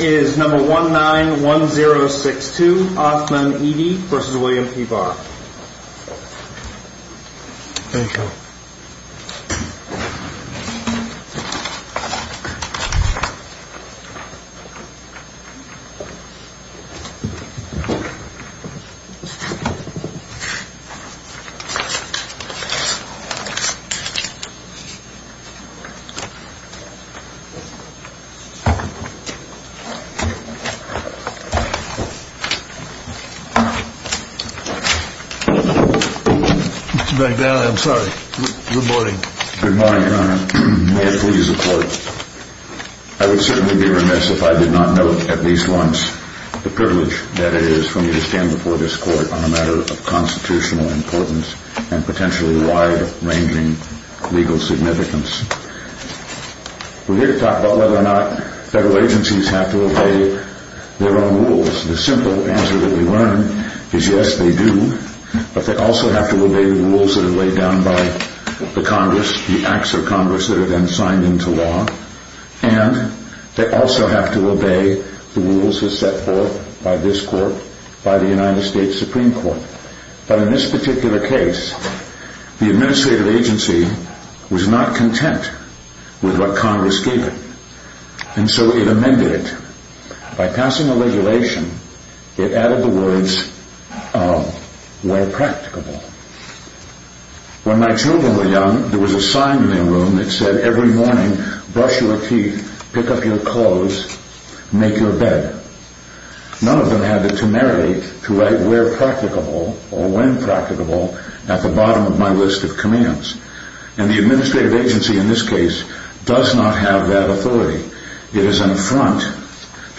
is number one nine one zero six two Hoffman ED versus William P. Barr. Mr. Barr, I'm sorry. Good morning. Good morning, Your Honor. May I please report? I would certainly be remiss if I did not note at least once the privilege that it is for me to stand before this court on a matter of constitutional importance and potentially wide-ranging legal significance. We're here to talk about whether or not federal agencies have to obey their own rules. The simple answer that we learn is yes, they do, but they also have to obey the rules that are laid down by the Congress, the acts of Congress that are then signed into law. And they also have to obey the rules that are set forth by this court, by the United States Supreme Court. But in this particular case, the administrative agency was not content with what Congress gave it. And so it amended it by passing a regulation that added the words of where practicable. When my children were young, there was a sign in their room that said every morning, brush your teeth, pick up your clothes, make your bed. None of them had the temerity to write where practicable or when practicable at the bottom of my list of commands. And the administrative agency in this case does not have that authority. It is an affront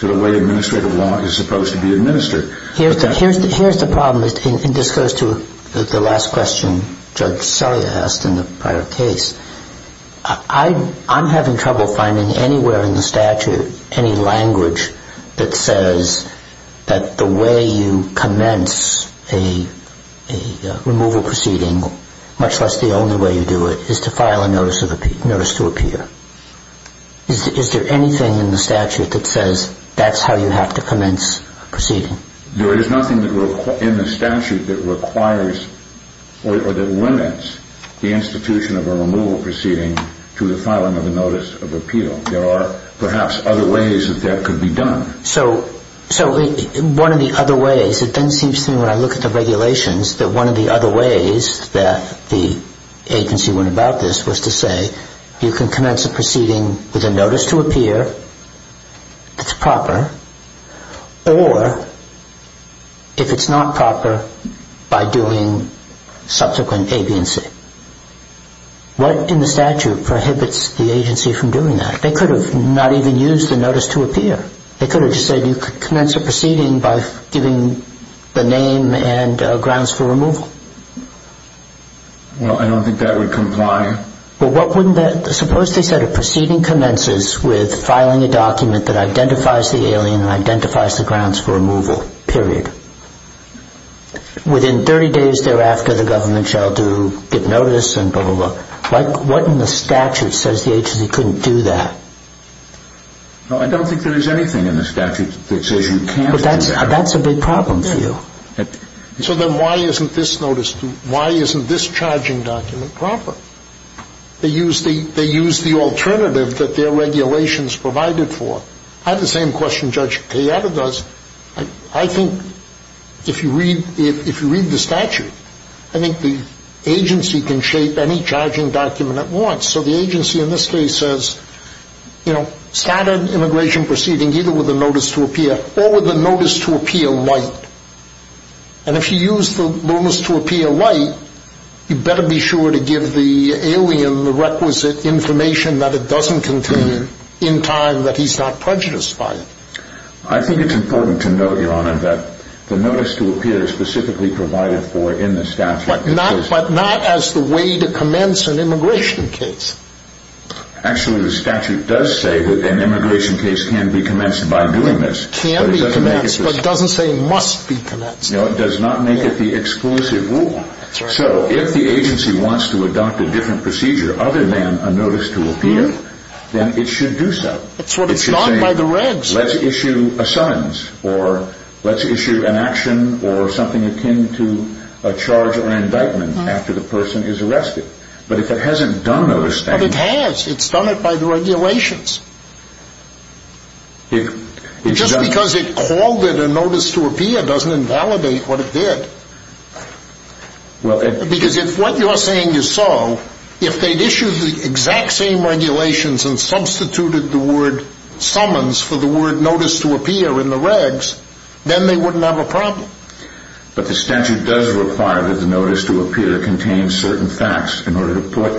to the way administrative law is supposed to be administered. Here's the problem, and this goes to the last question Judge Sully asked in the prior case. I'm having trouble finding anywhere in the statute any language that says that the way you commence a removal proceeding, much less the only way you do it, is to file a notice to appear. Is there anything in the statute that says that's how you have to commence a proceeding? There is nothing in the statute that requires or that limits the institution of a removal proceeding to the filing of a notice of appeal. There are perhaps other ways that that could be done. So one of the other ways, it then seems to me when I look at the regulations, that one of the other ways that the agency went about this was to say you can commence a proceeding with a notice to appear that's proper, or if it's not proper, by doing subsequent aviancy. What in the statute prohibits the agency from doing that? They could have not even used the notice to appear. They could have just said you could commence a proceeding by giving the name and grounds for removal. Well, I don't think that would comply. Suppose they said a proceeding commences with filing a document that identifies the alien and identifies the grounds for removal, period. Within 30 days thereafter, the government shall get notice and blah, blah, blah. What in the statute says the agency couldn't do that? I don't think there is anything in the statute that says you can't do that. But that's a big problem for you. So then why isn't this notice, why isn't this charging document proper? They used the alternative that their regulations provided for. I have the same question Judge Cayetta does. I think if you read the statute, I think the agency can shape any charging document it wants. So the agency in this case says, you know, standard immigration proceeding either with a notice to appear or with a notice to appear light. And if you use the notice to appear light, you better be sure to give the alien the requisite information that it doesn't contain in time that he's not prejudiced by it. I think it's important to note, Your Honor, that the notice to appear is specifically provided for in the statute. But not as the way to commence an immigration case. Actually, the statute does say that an immigration case can be commenced by doing this. It can be commenced, but it doesn't say it must be commenced. No, it does not make it the exclusive rule. So if the agency wants to adopt a different procedure other than a notice to appear, then it should do so. It's not by the regs. Let's issue a summons or let's issue an action or something akin to a charge or an indictment after the person is arrested. But if it hasn't done those things. It has. It's done it by the regulations. Just because it called it a notice to appear doesn't invalidate what it did. Because if what you're saying is so, if they'd issued the exact same regulations and substituted the word summons for the word notice to appear in the regs, then they wouldn't have a problem. But the statute does require that the notice to appear contains certain facts in order to put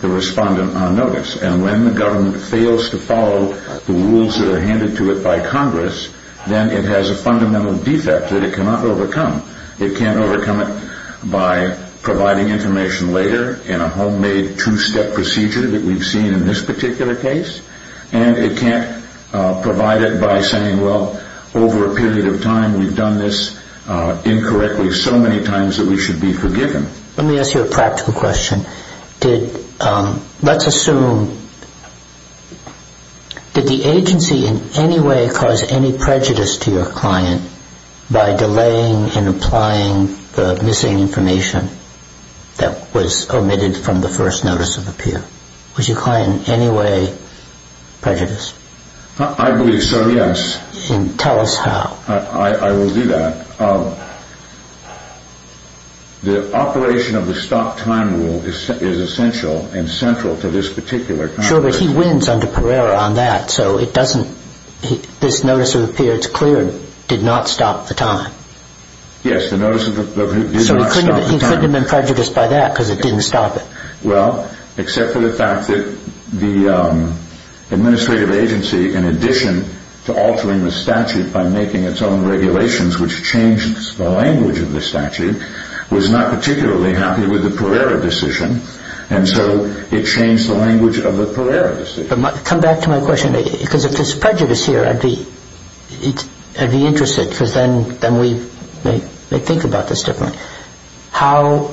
the respondent on notice. And when the government fails to follow the rules that are handed to it by Congress, then it has a fundamental defect that it cannot overcome. It can't overcome it by providing information later in a homemade two-step procedure that we've seen in this particular case. And it can't provide it by saying, well, over a period of time we've done this incorrectly so many times that we should be forgiven. Let me ask you a practical question. Let's assume, did the agency in any way cause any prejudice to your client by delaying and applying the missing information that was omitted from the first notice of appear? Was your client in any way prejudiced? I believe so, yes. Tell us how. I will do that. The operation of the stop time rule is essential and central to this particular conversation. Sure, but he wins under Pereira on that, so this notice of appear, it's clear, did not stop the time. Yes, the notice of appear did not stop the time. So he couldn't have been prejudiced by that because it didn't stop it. Well, except for the fact that the administrative agency, in addition to altering the statute by making its own regulations, which changed the language of the statute, was not particularly happy with the Pereira decision, and so it changed the language of the Pereira decision. Come back to my question, because if there's prejudice here, I'd be interested, because then we may think about this differently. How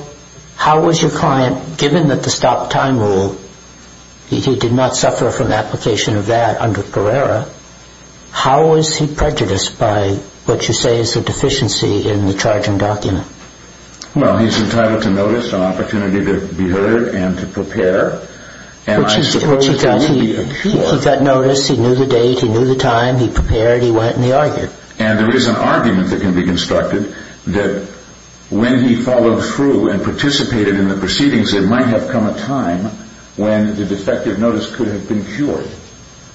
was your client, given that the stop time rule, he did not suffer from application of that under Pereira, how was he prejudiced by what you say is a deficiency in the charging document? Well, he's entitled to notice, an opportunity to be heard, and to prepare. Which he got, he got notice, he knew the date, he knew the time, he prepared, he went and he argued. And there is an argument that can be constructed that when he followed through and participated in the proceedings, there might have come a time when the defective notice could have been cured.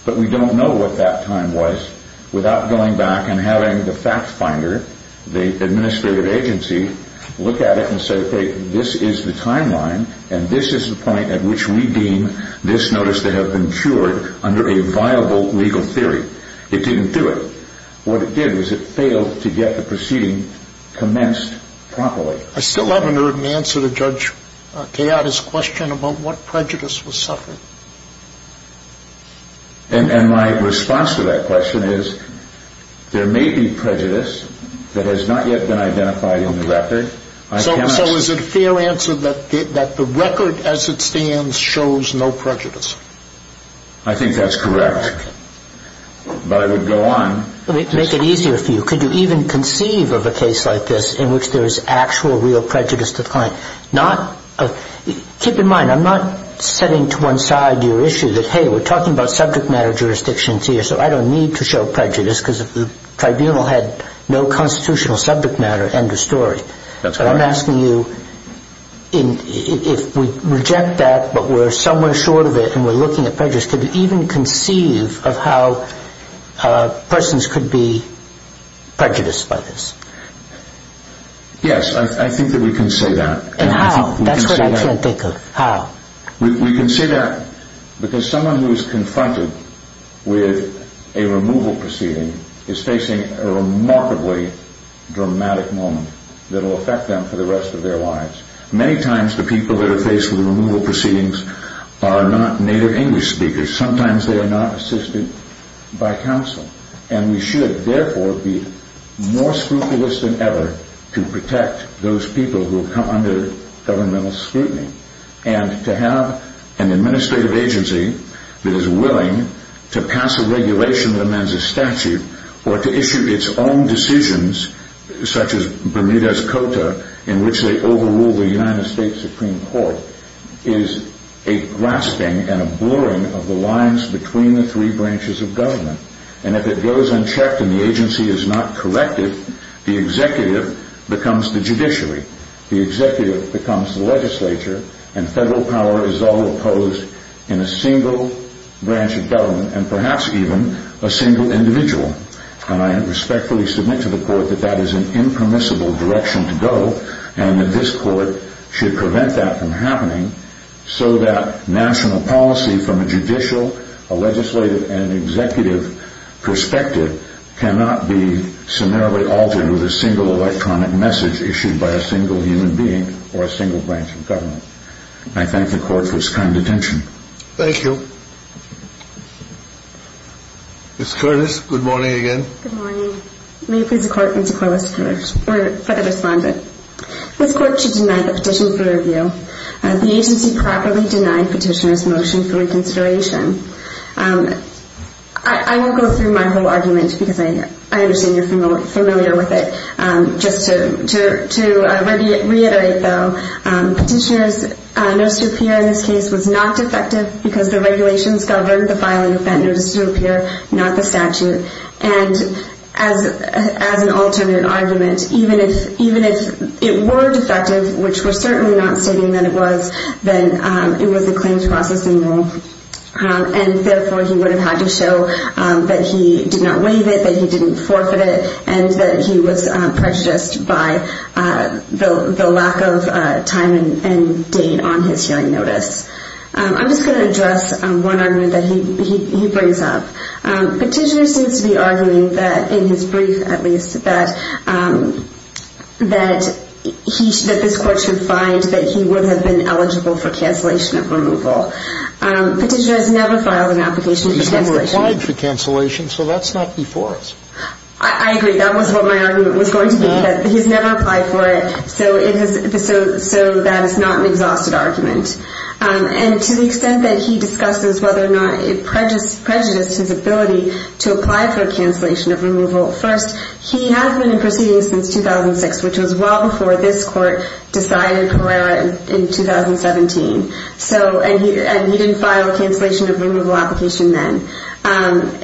But we don't know what that time was without going back and having the fact finder, the administrative agency, look at it and say, okay, this is the timeline, and this is the point at which we deem this notice to have been cured under a viable legal theory. It didn't do it. What it did was it failed to get the proceeding commenced properly. I still haven't heard an answer to Judge Kayada's question about what prejudice was suffered. And my response to that question is, there may be prejudice that has not yet been identified in the record. So is it fair answer that the record as it stands shows no prejudice? I think that's correct. But I would go on. Let me make it easier for you. Could you even conceive of a case like this in which there is actual real prejudice to claim? Keep in mind, I'm not setting to one side your issue that, hey, we're talking about subject matter jurisdictions here, so I don't need to show prejudice because if the tribunal had no constitutional subject matter, end of story. That's right. I'm asking you, if we reject that but we're somewhere short of it and we're looking at prejudice, could you even conceive of how persons could be prejudiced by this? Yes, I think that we can say that. And how? That's what I can't think of. How? We can say that because someone who is confronted with a removal proceeding is facing a remarkably dramatic moment that will affect them for the rest of their lives. Many times the people that are faced with removal proceedings are not native English speakers. Sometimes they are not assisted by counsel. And we should, therefore, be more scrupulous than ever to protect those people who come under governmental scrutiny and to have an administrative agency that is willing to pass a regulation that amends a statute or to issue its own decisions such as Bermuda's Cota in which they overrule the United States Supreme Court is a grasping and a blurring of the lines between the three branches of government. And if it goes unchecked and the agency is not corrected, the executive becomes the judiciary, the executive becomes the legislature, and federal power is all opposed in a single branch of government and perhaps even a single individual. And I respectfully submit to the court that that is an impermissible direction to go and that this court should prevent that from happening so that national policy from a judicial, a legislative, and an executive perspective cannot be summarily altered with a single electronic message issued by a single human being or a single branch of government. I thank the court for its kind attention. Thank you. Ms. Curtis, good morning again. Good morning. May it please the court, Mr. Corliss, for the respondent. This court should deny the petition for review. The agency properly denied petitioner's motion for reconsideration. I won't go through my whole argument because I understand you're familiar with it. Just to reiterate, though, petitioner's notice to appear in this case was not defective because the regulations govern the filing of that notice to appear, not the statute. And as an alternate argument, even if it were defective, which we're certainly not stating that it was, then it was a claims processing rule. And therefore, he would have had to show that he did not waive it, that he didn't forfeit it, and that he was prejudiced by the lack of time and date on his hearing notice. I'm just going to address one argument that he brings up. Petitioner seems to be arguing that, in his brief at least, that this court should find that he would have been eligible for cancellation of removal. Petitioner has never filed an application for cancellation. He's never applied for cancellation, so that's not before us. I agree. That was what my argument was going to be. He's never applied for it, so that is not an exhausted argument. And to the extent that he discusses whether or not it prejudiced his ability to apply for cancellation of removal, first, he has been in proceedings since 2006, which was well before this court decided Herrera in 2017. And he didn't file a cancellation of removal application then. And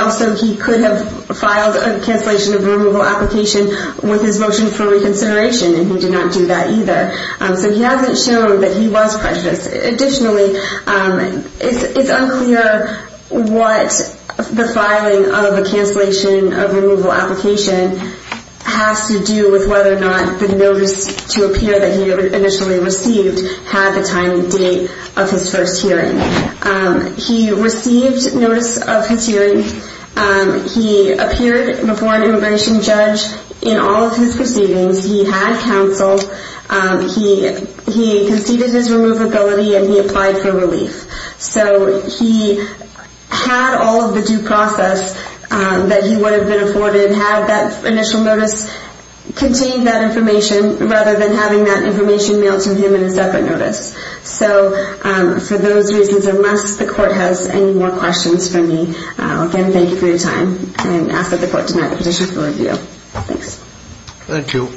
also, he could have filed a cancellation of removal application with his motion for reconsideration, and he did not do that either. So he hasn't shown that he was prejudiced. Additionally, it's unclear what the filing of a cancellation of removal application has to do with whether or not the notice to appear that he initially received had the time and date of his first hearing. He received notice of his hearing. He appeared before an immigration judge in all of his proceedings. He had counsel. He conceded his removability, and he applied for relief. So he had all of the due process that he would have been afforded, had that initial notice contain that information rather than having that information mailed to him in a separate notice. So for those reasons, unless the court has any more questions for me, again, thank you for your time, and ask that the court deny the petition for review. Thanks. Thank you.